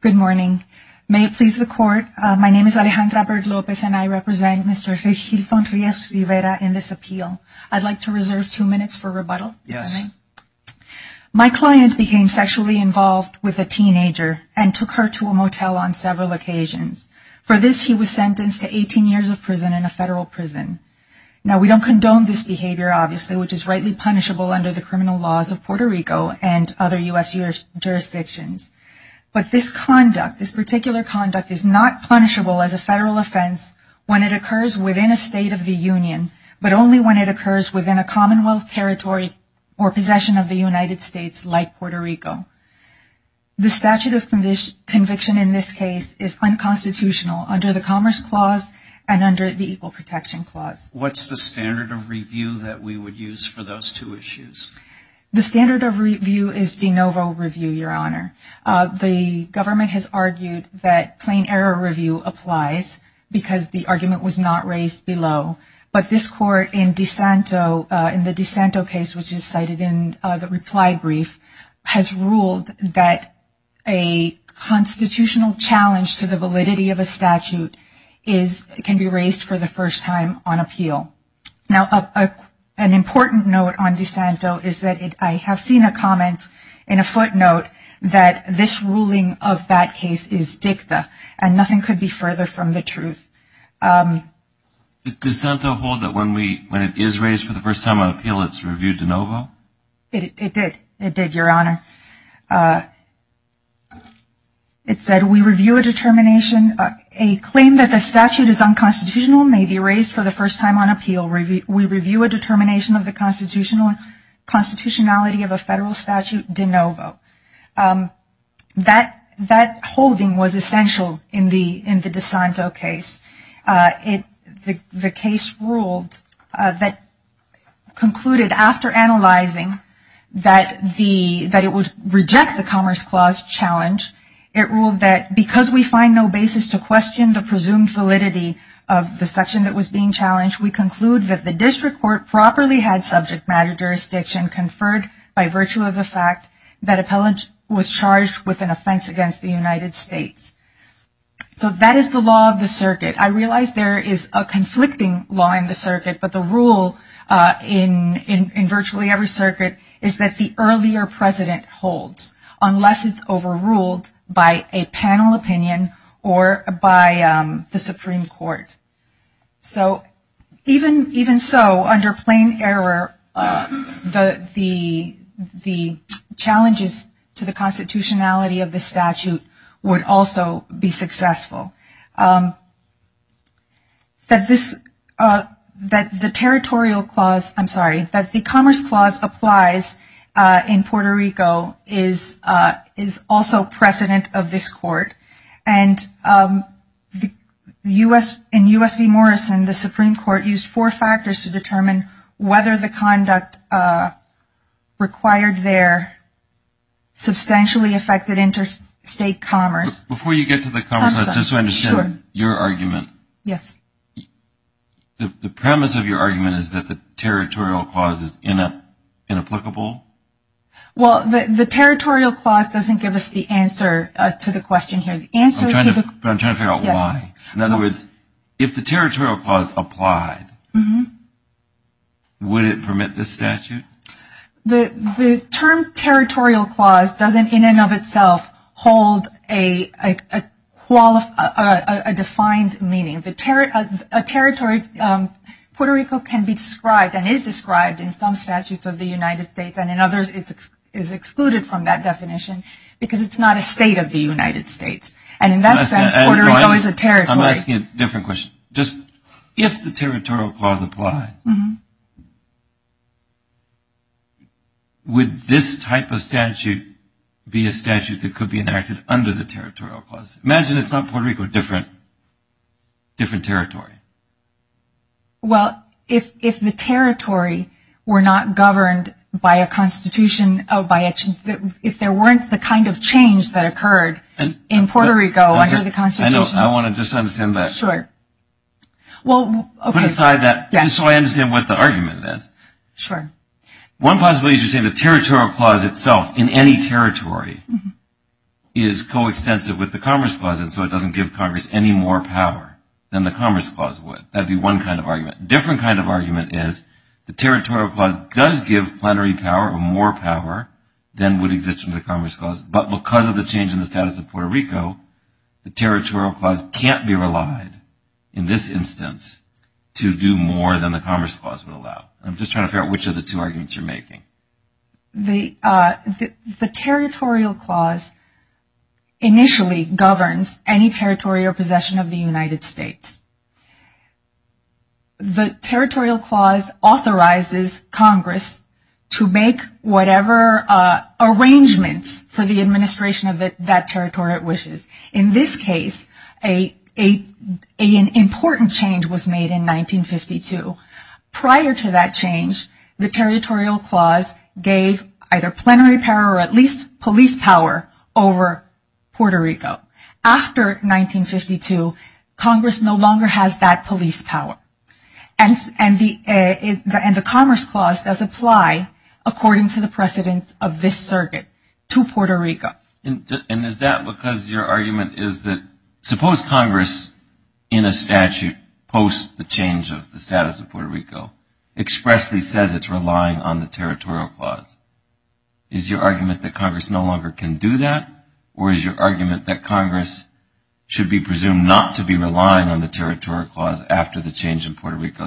Good morning. May it please the court, my name is Alejandra Bird Lopez and I represent Mr. Regilton Rios-Rivera in this appeal. I'd like to reserve two minutes for rebuttal. My client became sexually involved with a teenager and took her to a motel on several occasions. For this he was sentenced to 18 years of prison in a federal prison. Now we don't condone this behavior, obviously, which is rightly punishable under the criminal laws of Puerto Rico and other U.S. jurisdictions. But this conduct, this particular conduct is not punishable as a federal offense when it occurs within a state of the union, but only when it occurs within a commonwealth territory or possession of the United States like Puerto Rico. The statute of conviction in this case is unconstitutional under the Equal Protection Clause. What's the standard of review that we would use for those two issues? The standard of review is de novo review, your honor. The government has argued that plain error review applies because the argument was not raised below. But this court in DeSanto, in the DeSanto case which is cited in the reply brief, has ruled that a constitutional challenge to the validity of a statute can be raised for the first time on appeal. Now an important note on DeSanto is that I have seen a comment in a footnote that this ruling of that case is dicta and nothing could be further from the truth. Does DeSanto hold that when it is raised for the first time on appeal it's reviewed de novo? It did, your honor. It said we review a determination, a claim that the statute is unconstitutional may be raised for the first time on appeal. We review a determination of the constitutionality of a federal statute de novo. That holding was essential in the DeSanto case. The case ruled that concluded after analyzing that it would reject the Commerce Clause challenge, it ruled that because we find no basis to question the presumed validity of the section that was being challenged, we conclude that the district court properly had subject matter jurisdiction conferred by virtue of the fact that appellant was charged with an offense against the United States. So that is the law of the circuit. I realize there is a conflicting law in the circuit, but the rule in virtually every circuit is that the earlier president holds unless it is overruled by a panel opinion or by the Supreme Court. So even so, under plain error, the challenges to the constitutionality of the statute would also be successful. That the Commerce Clause applies in Puerto Rico is also precedent of this court. In U.S. v. Morrison, the Supreme Court used four factors to determine whether the conduct required their substantially affected interstate commerce. Before you get to the Commerce Clause, just to understand your argument, the premise of your argument is that the Territorial Clause is inapplicable? Well the Territorial Clause doesn't give us the answer to the question here. I'm trying to figure out why. In other words, if the Territorial Clause applied, would it permit this statute? The term Territorial Clause doesn't in and of itself hold a defined meaning. Puerto Rico can be described and is described in some statutes of the United States and in others it is excluded from that definition because it is not a state of the United States. And in that sense, Puerto Rico is a territory. I'm asking a different question. If the Territorial Clause applied, would this type of statute be a statute that could be enacted under the Territorial Clause? Imagine it's not Puerto Rico, a different territory. Well if the territory were not governed by a constitution, if there weren't the kind of change that occurred in Puerto Rico under the constitution. I know, I want to just understand that, put aside that, just so I understand what the argument is. One possibility is to say the Territorial Clause itself in any territory is coextensive with the Commerce Clause and so it doesn't give Congress any more power than the Commerce Clause would. That would be one kind of argument. A different kind of argument is the Territorial Clause does give plenary power or more power than would exist under the Commerce Clause, but because of the change in the status of Puerto Rico, the Territorial Clause can't be relied, in this instance, to do more than the Commerce Clause would allow. I'm just trying to figure out which of the two arguments you're making. The Territorial Clause initially governs any territory or possession of the United States. The Territorial Clause authorizes Congress to make whatever arrangements for the administration of that territory it wishes. In this case, an important change was made in 1952. Prior to that change, the Territorial Clause gave either plenary power or at least police power over Puerto Rico. After 1952, Congress no longer has that police power and the Commerce Clause does apply, according to the precedents of this circuit, to Puerto Rico. And is that because your argument is that suppose Congress, in a statute post the change of the status of Puerto Rico, expressly says it's relying on the Territorial Clause. Is your argument that Congress no longer can do that or is your argument that Congress should be presumed not to be relying on the Territorial Clause after the change in Puerto Rico?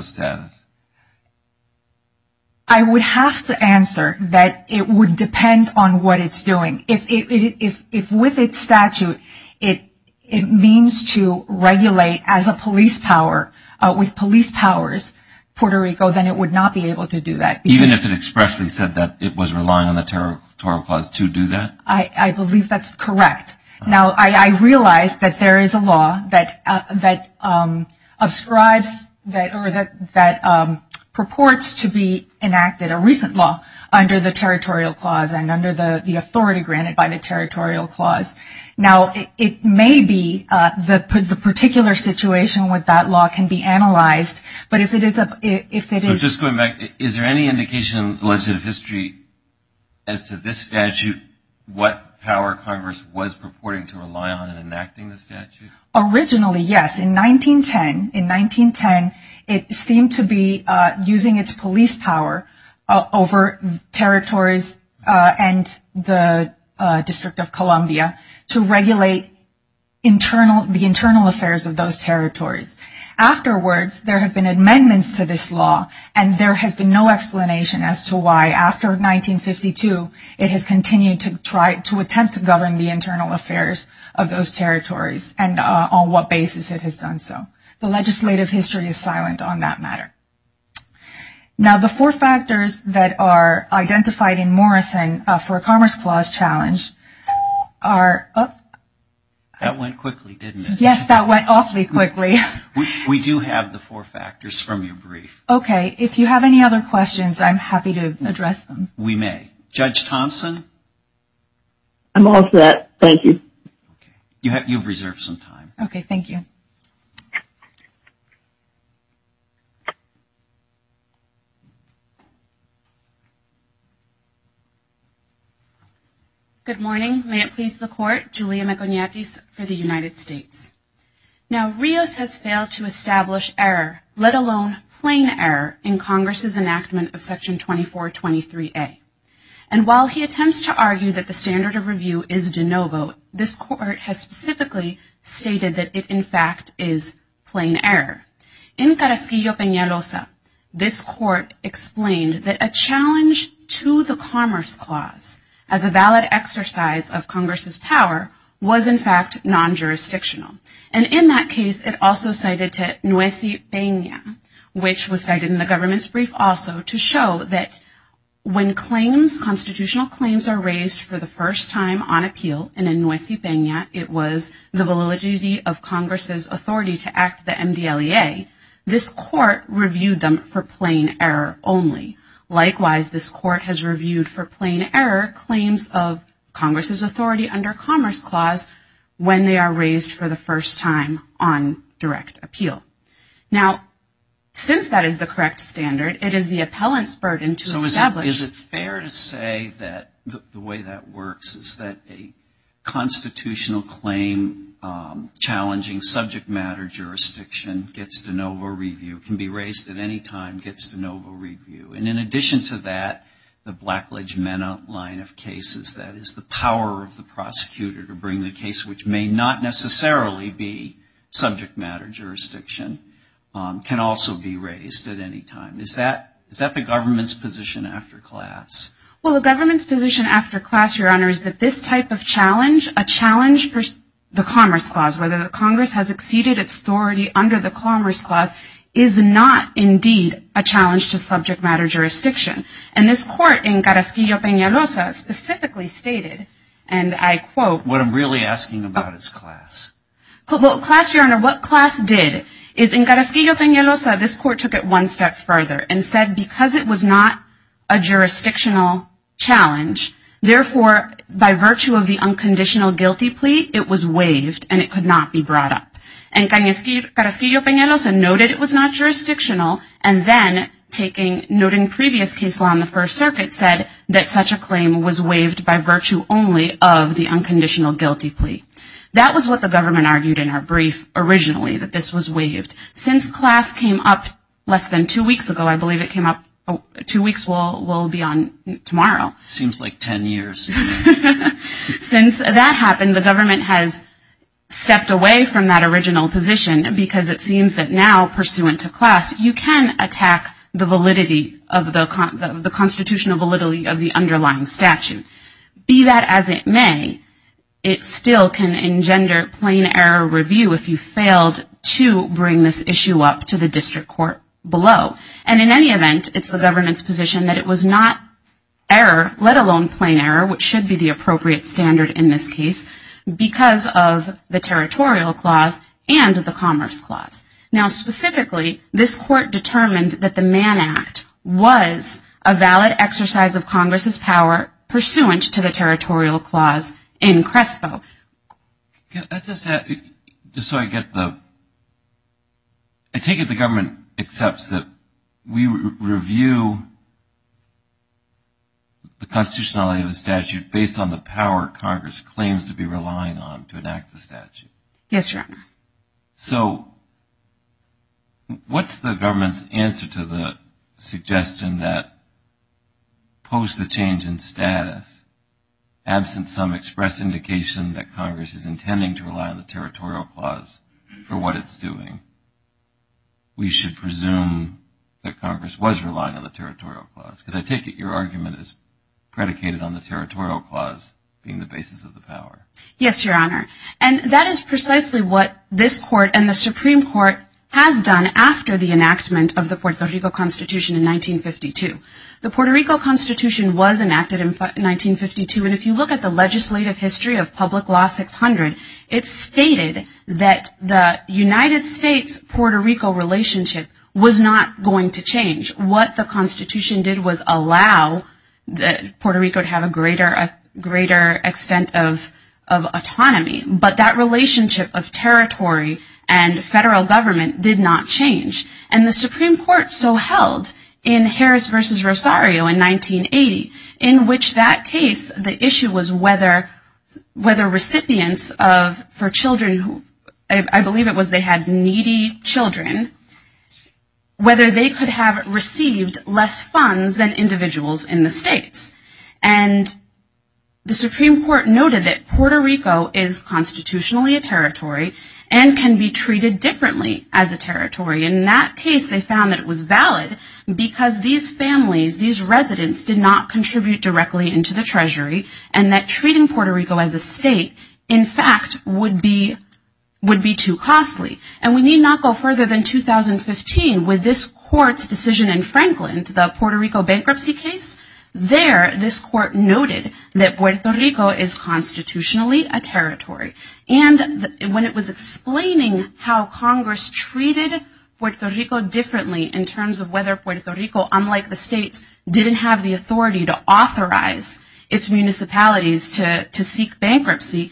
I would have to answer that it would depend on what it's doing. If with its statute, it means to regulate as a police power with police powers Puerto Rico, then it would not be able to do that. Even if it expressly said that it was relying on the Territorial Clause to do that? I believe that's correct. Now, I realize that there is a law that prescribes or that purports to be enacted, a recent law, under the Territorial Clause and under the authority granted by the Territorial Clause. Now, it may be that the particular situation with that law can be analyzed, but if it is a... Just going back, is there any indication in legislative history as to this statute, what power Congress was purporting to rely on in enacting the statute? Originally, yes. In 1910, it seemed to be using its police power over territories and the District of Columbia to regulate the internal affairs of those territories. Afterwards, there have been amendments to this law and there has been no explanation as to why after 1952, it has continued to attempt to govern the internal affairs of those territories and on what basis it has done so. The legislative history is silent on that matter. Now, the four factors that are identified in Morrison for a Commerce Clause challenge are... That went quickly, didn't it? Yes, that went awfully quickly. We do have the four factors from your brief. Okay. If you have any other questions, I'm happy to address them. We may. Judge Thompson? I'm all set. Thank you. You have reserved some time. Okay. Thank you. Good morning. May it please the Court. Julia Maconiatis for the United States. Now, Rios has failed to establish error, let alone plain error, in Congress's enactment of Section 2423A. And while he attempts to argue that the standard of review is de novo, this Court has specifically stated that it, in fact, is plain error. In Carrasquillo-Peñalosa, this Court explained that a challenge to the Commerce Clause as a valid exercise of Congress's power was, in fact, non-jurisdictional. And in that case, it also cited Tehnoesi Peña, which was cited in the government's brief also to show that when claims, constitutional claims, are raised for the first time on appeal and in Tehnoesi Peña, it was the validity of Congress's authority to act the MDLEA, this Court reviewed them for plain error only. Likewise, this Court has reviewed for plain error claims of Congress's authority under Commerce Clause when they are raised for the first time on direct appeal. Now, since that is the correct standard, it is the appellant's burden to establish Is it fair to say that the way that works is that a constitutional claim challenging subject matter jurisdiction gets de novo review, can be raised at any time, gets de novo review? And in addition to that, the Blackledge-Mena line of cases, that is the power of the prosecutor to bring the case which may not necessarily be subject matter jurisdiction, can also be Now, what about the government's position after class? Well, the government's position after class, Your Honor, is that this type of challenge, a challenge per the Commerce Clause, whether the Congress has exceeded its authority under the Commerce Clause, is not indeed a challenge to subject matter jurisdiction. And this Court in Carasquillo-Peñalosa specifically stated, and I quote What I'm really asking about is class. Well, class, Your Honor, what class did is in Carasquillo-Peñalosa, this Court took it one step further and said because it was not a jurisdictional challenge, therefore by virtue of the unconditional guilty plea, it was waived and it could not be brought up. And Carasquillo-Peñalosa noted it was not jurisdictional and then taking, noting previous case law in the First Circuit, said that such a claim was waived by virtue only of the unconditional guilty plea. That was what the government argued in our brief originally, that this was waived. Since class came up less than two weeks ago, I believe it came up, two weeks will be on tomorrow. Seems like ten years. Since that happened, the government has stepped away from that original position because it seems that now pursuant to class, you can attack the validity of the constitutional validity of the underlying statute. Be that as it may, it still can engender plain error review if you failed to bring this issue up to the district court below. And in any event, it's the government's position that it was not error, let alone plain error, which should be the appropriate standard in this case, because of the territorial clause and the commerce clause. Now specifically, this Court determined that the Mann Act was a valid exercise of Congress's power pursuant to the territorial clause in CRESPO. I just had, just so I get the, I take it the government accepts that we review the constitutionality of the statute based on the power Congress claims to be relying on to enact the statute. Yes, Your Honor. So what's the government's answer to the suggestion that post the change in status, absent some express indication that Congress is intending to rely on the territorial clause for what it's doing, we should presume that Congress was relying on the territorial clause? Because I take it your argument is predicated on the territorial clause being the basis of the power. Yes, Your Honor. And that is precisely what this Court and the Supreme Court has done after the enactment of the Puerto Rico Constitution in 1952. The Puerto Rico Constitution was enacted in 1952, and if you look at the legislative history of public law 600, it stated that the United States-Puerto Rico relationship was not going to change. What the Constitution did was allow that Puerto Rico would have a greater extent of autonomy but that relationship of territory and federal government did not change. And the Supreme Court so held in Harris v. Rosario in 1980, in which that case the issue was whether recipients for children, I believe it was they had needy children, whether they could have received less funds than individuals in the states. And the Supreme Court noted that Puerto Rico is constitutionally a territory and can be treated differently as a territory. In that case, they found that it was valid because these families, these residents did not contribute directly into the treasury and that treating Puerto Rico as a state, in fact, would be too costly. And we need not go further than 2015 with this Court's decision in Franklin, the Puerto Rico case, where this Court noted that Puerto Rico is constitutionally a territory. And when it was explaining how Congress treated Puerto Rico differently in terms of whether Puerto Rico, unlike the states, didn't have the authority to authorize its municipalities to seek bankruptcy,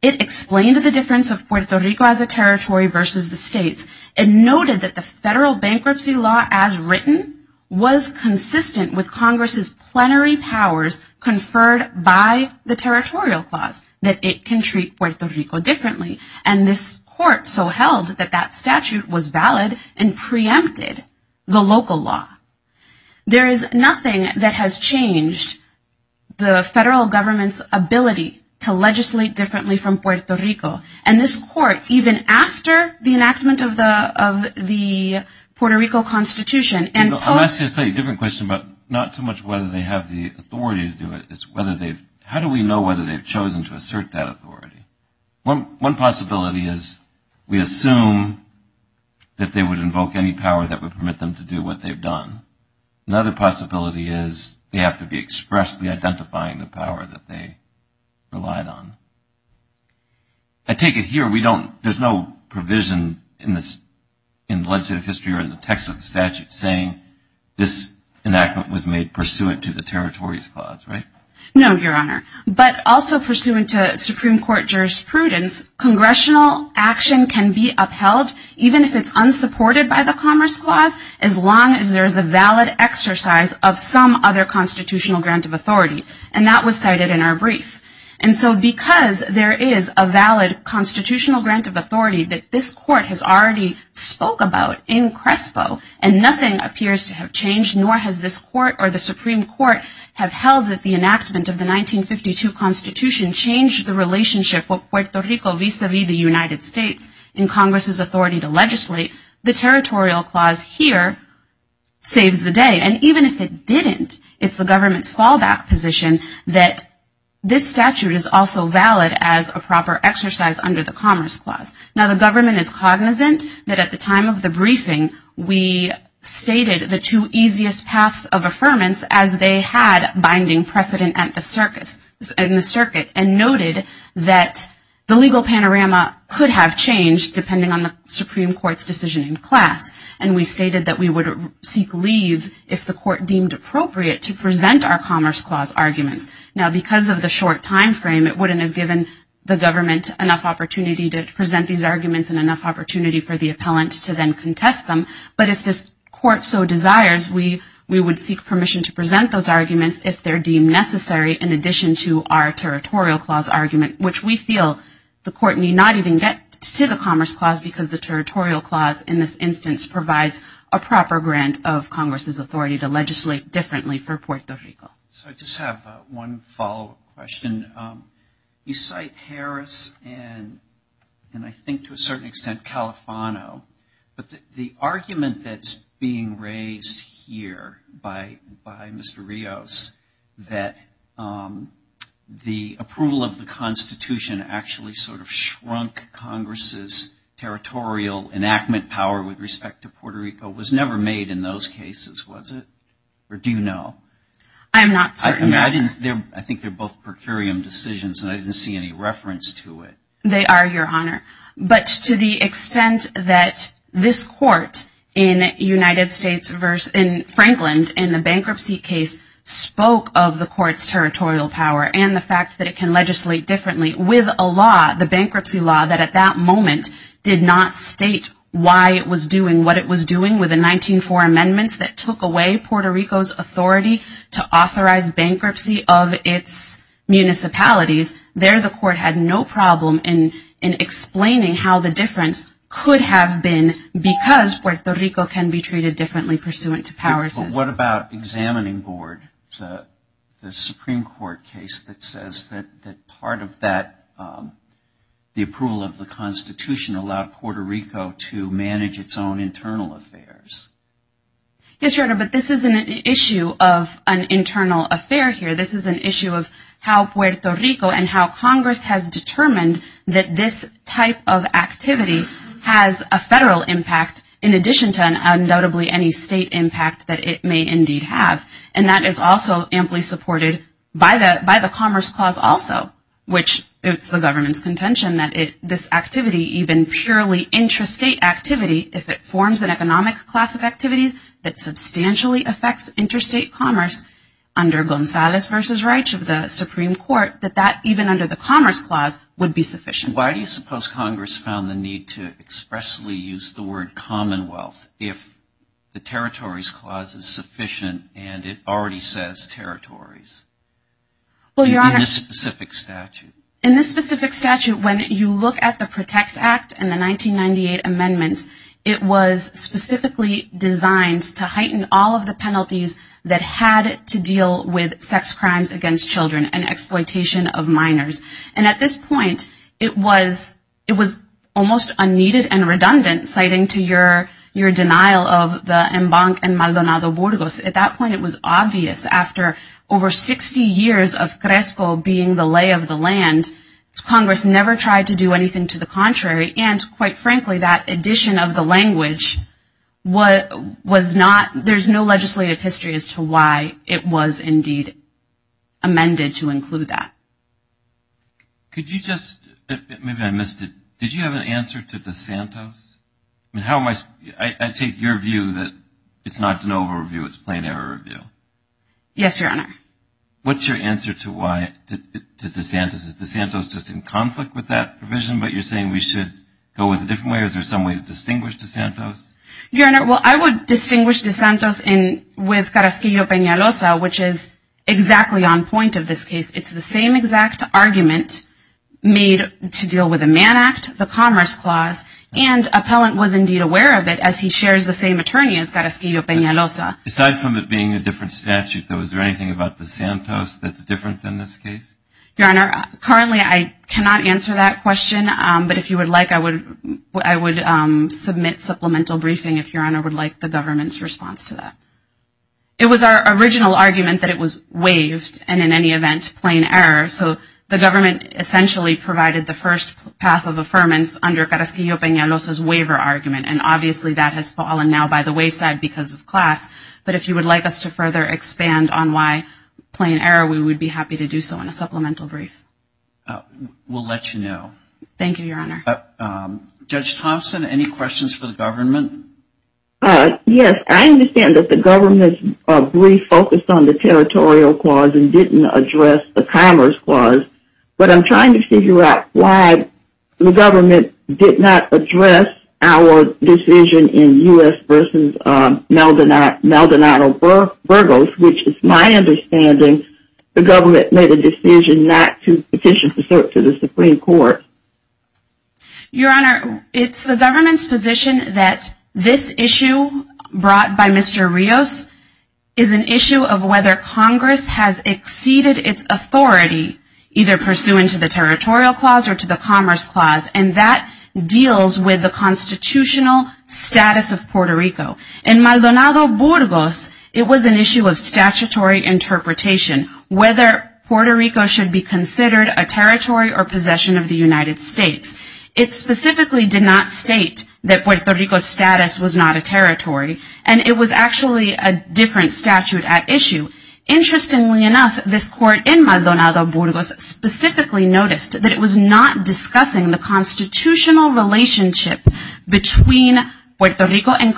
it explained the difference of Puerto Rico as a territory versus the states and noted that the federal bankruptcy law as written was consistent with Congress's plenary powers conferred by the territorial clause, that it can treat Puerto Rico differently. And this Court so held that that statute was valid and preempted the local law. There is nothing that has changed the federal government's ability to legislate differently from Puerto Rico. And this Court, even after the enactment of the Puerto Rico Constitution and post- I was going to say a different question, but not so much whether they have the authority to do it, it's how do we know whether they've chosen to assert that authority? One possibility is we assume that they would invoke any power that would permit them to do what they've done. Another possibility is they have to be expressly identifying the power that they relied on. I take it here, we don't, there's no provision in the legislative history or in the text of the statute saying this enactment was made pursuant to the territories clause, right? No, Your Honor. But also pursuant to Supreme Court jurisprudence, congressional action can be upheld even if it's unsupported by the Commerce Clause as long as there is a valid exercise of some other constitutional grant of authority. And that was cited in our brief. And so because there is a valid constitutional grant of authority that this Court has already spoke about in CRESPO and nothing appears to have changed, nor has this Court or the Supreme Court have held that the enactment of the 1952 Constitution changed the relationship of Puerto Rico vis-a-vis the United States in Congress's authority to legislate, the territorial clause here saves the day. And even if it didn't, it's the government's fallback position that this statute is also valid as a proper exercise under the Commerce Clause. Now, the government is cognizant that at the time of the briefing, we stated the two easiest paths of affirmance as they had binding precedent at the circuit and noted that the legal panorama could have changed depending on the Supreme Court's decision in class. And we stated that we would seek leave if the Court deemed appropriate to present our Commerce Clause arguments. Now, because of the short timeframe, it wouldn't have given the government enough opportunity to present these arguments and enough opportunity for the appellant to then contest them. But if this Court so desires, we would seek permission to present those arguments if they're deemed necessary in addition to our Territorial Clause argument, which we feel the Court need not even get to the Commerce Clause because the Territorial Clause in this instance provides a proper grant of Congress's authority to legislate differently for Puerto Rico. So I just have one follow-up question. You cite Harris and I think to a certain extent Califano, but the argument that's being raised here by Mr. Rios that the approval of the Constitution actually sort of shrunk Congress's territorial enactment power with respect to Puerto Rico was never made in those cases, was it? Or do you know? I'm not certain. I think they're both per curiam decisions and I didn't see any reference to it. They are, Your Honor. But to the extent that this Court in the Bankruptcy case spoke of the Court's territorial power and the fact that it can legislate differently with a law, the bankruptcy law, that at that moment did not state why it was doing what it was doing with the 1904 amendments that were made to authorize bankruptcy of its municipalities, there the Court had no problem in explaining how the difference could have been because Puerto Rico can be treated differently pursuant to power systems. What about Examining Board, the Supreme Court case that says that part of the approval of the Constitution allowed Puerto Rico to manage its own internal affairs? Yes, Your Honor, but this is an issue of an internal affair here. This is an issue of how Puerto Rico and how Congress has determined that this type of activity has a federal impact in addition to undoubtedly any state impact that it may indeed have. And that is also amply supported by the Commerce Clause also, which it's the government's contention that this activity, even purely intrastate activity, if it forms an economic class of activities that substantially affects interstate commerce under Gonzales v. Reich of the Supreme Court, that that even under the Commerce Clause would be sufficient. Why do you suppose Congress found the need to expressly use the word Commonwealth if the Territories Clause is sufficient and it already says territories in this specific statute? When you look at the PROTECT Act and the 1998 amendments, it was specifically designed to heighten all of the penalties that had to deal with sex crimes against children and exploitation of minors. And at this point it was almost unneeded and redundant, citing to your denial of the embank in Maldonado Burgos. At that point it was obvious after over 60 years of CRESPO being the lay of the land, Congress never tried to do anything to the contrary. And quite frankly, that addition of the language was not, there's no legislative history as to why it was indeed amended to include that. Could you just, maybe I missed it, did you have an answer to DeSantos? I mean, how am I, I take your view that it's not an over review, it's a plain error review. Yes, Your Honor. What's your answer to why, to DeSantos? Is DeSantos just in conflict with that provision, but you're saying we should go with a different way? Is there some way to distinguish DeSantos? Your Honor, well, I would distinguish DeSantos with Carasquillo-Pena Loza, which is exactly on point of this case. It's the same exact argument made to deal with the Mann Act, the Commerce Clause, and appellant was indeed aware of it as he shares the same attorney as Carasquillo-Pena Loza. Aside from it being a different statute, though, is there anything about DeSantos that's different than this case? Your Honor, currently I cannot answer that question, but if you would like, I would submit supplemental briefing if Your Honor would like the government's response to that. It was our original argument that it was waived and in any event, plain error. So the government essentially provided the first path of affirmance under Carasquillo-Pena Loza's waiver argument, and obviously that has fallen now by the wayside because of class. But if you would like us to further expand on why plain error, we would be happy to do so in a supplemental brief. We'll let you know. Thank you, Your Honor. Judge Thompson, any questions for the government? Yes, I understand that the government's brief focused on the Territorial Clause and didn't address the Commerce Clause, but I'm trying to figure out why the government did not address our decision in U.S. v. Maldonado-Burgos, which is my understanding, the government made a decision not to petition to the Supreme Court. Your Honor, it's the government's position that this issue brought by Mr. Rios is an issue of whether Congress has exceeded its authority, either pursuant to the Territorial Clause or to the Commerce Clause, and that deals with the constitutional status of Puerto Rico. In Maldonado-Burgos, it was an issue of statutory interpretation, whether Puerto Rico should be considered a territory or possession of the United States. It specifically did not state that Puerto Rico's status was not a territory, and it was actually a different statute at issue. Interestingly enough, this court in Maldonado-Burgos specifically noticed that it was not discussing the constitutional relationship between Puerto Rico and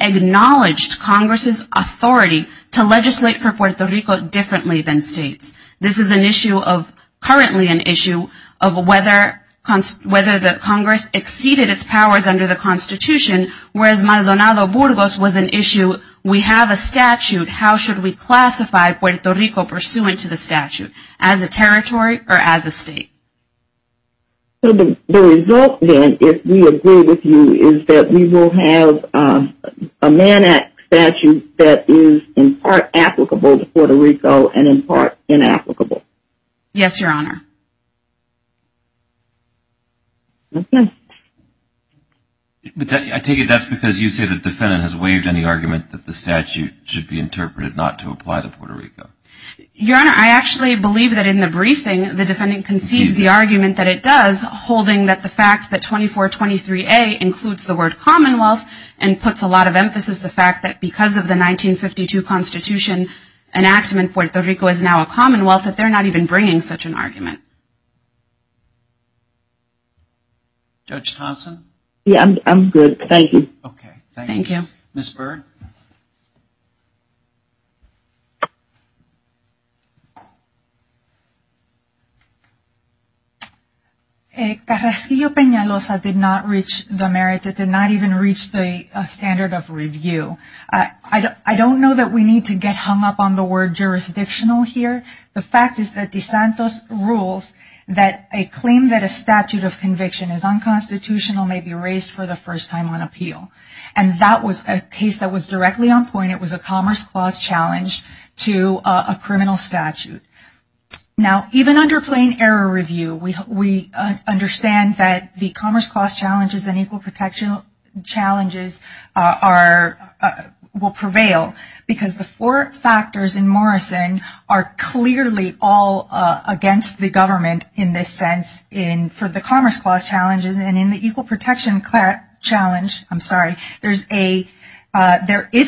acknowledged Congress's authority to legislate for Puerto Rico differently than states. This is an issue of, currently an issue, of whether the Congress exceeded its powers under the Constitution, whereas Maldonado-Burgos was an issue, we have a statute, how should we classify Puerto Rico pursuant to the statute, as a territory or as a state? So the result, then, if we agree with you, is that we will have a Mann Act statute that is in part applicable to Puerto Rico and in part inapplicable. Yes, Your Honor. I take it that's because you say the defendant has waived any argument that the statute should be interpreted not to apply to Puerto Rico. Your Honor, I actually believe that in the briefing, the defendant concedes the argument that it does, holding that the fact that 2423A includes the word commonwealth and puts a lot of emphasis on the fact that because of the 1952 Constitution, an act in Puerto Rico is now a commonwealth, that they're not even bringing such an argument. Judge Thompson? Yeah, I'm good, thank you. Okay, thank you. Ms. Byrd? Carrasquillo-Peñalosa did not reach the merits, it did not even reach the standard of review. I don't know that we need to get hung up on the word jurisdictional here. The fact is that DeSantos rules that a claim that a statute of conviction is unconstitutional may be raised for the first time on appeal. And that was a case that was directly on point, it was a commerce clause challenge to a criminal statute. Now, even under plain error review, we understand that the commerce clause challenges and equal protection challenges will prevail because the four factors in Morrison are clearly all against the government in this sense for the commerce clause challenges. And in the equal protection challenge, I'm sorry, there is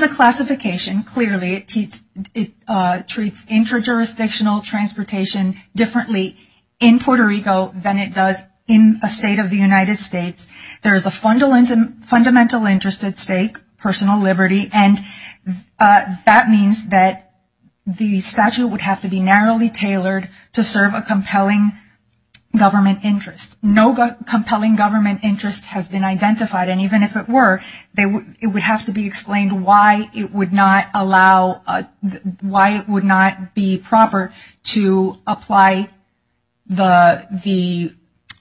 a classification, clearly it treats intra-jurisdictional transportation differently in Puerto Rico than it does in a state of the United States. There is a fundamental interest at stake, personal liberty. And that means that the statute would have to be narrowly tailored to serve a compelling government interest. No compelling government interest has been identified. And even if it were, it would have to be explained why it would not allow, why it would not be proper to apply the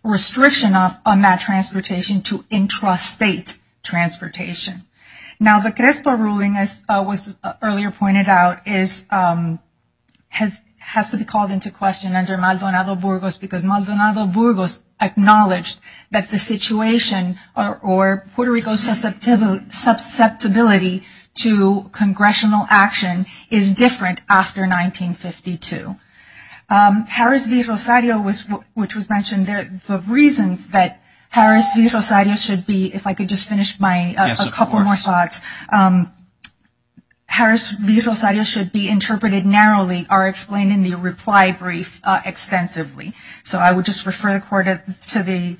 restriction on that transportation to intrastate transportation. Now, the CRESPO ruling, as was earlier pointed out, has to be called into question under Maldonado-Burgos because Maldonado-Burgos acknowledged that the situation or Puerto Rico's susceptibility to congressional action is different after 1952. Harris v. Rosario, which was mentioned, the reasons that Harris v. Rosario should be, if I could just finish my, a couple more thoughts. Harris v. Rosario should be interpreted narrowly or explained in the reply brief extensively. So I would just refer the court to the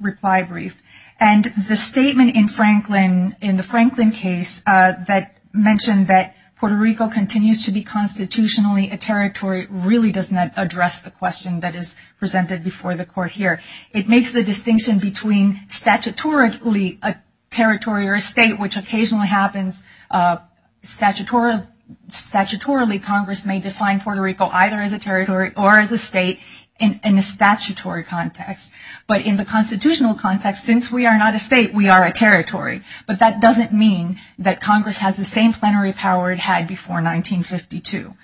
reply brief. And the statement in Franklin, in the Franklin case that mentioned that Puerto Rico continues to be constitutionally a territory really does not address the question that is presented before the court here. It makes the distinction between statutorily a territory or a state, which occasionally happens statutorily, Congress may define Puerto Rico either as a state in a statutory context, but in the constitutional context, since we are not a state, we are a territory. But that doesn't mean that Congress has the same plenary power it had before 1952.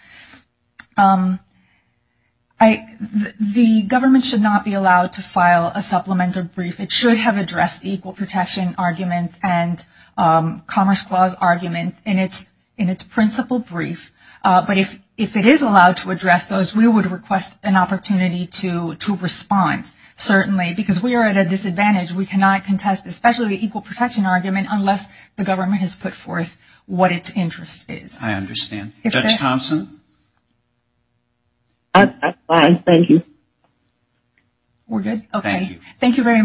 The government should not be allowed to file a supplemental brief. It should have addressed equal protection arguments and Commerce Clause arguments in its principal brief. But if, if it is allowed to address those, we would request an opportunity to, to respond, certainly, because we are at a disadvantage. We cannot contest, especially the equal protection argument, unless the government has put forth what its interest is. I understand. Judge Thompson? I'm fine, thank you. We're good. Okay. Thank you very much.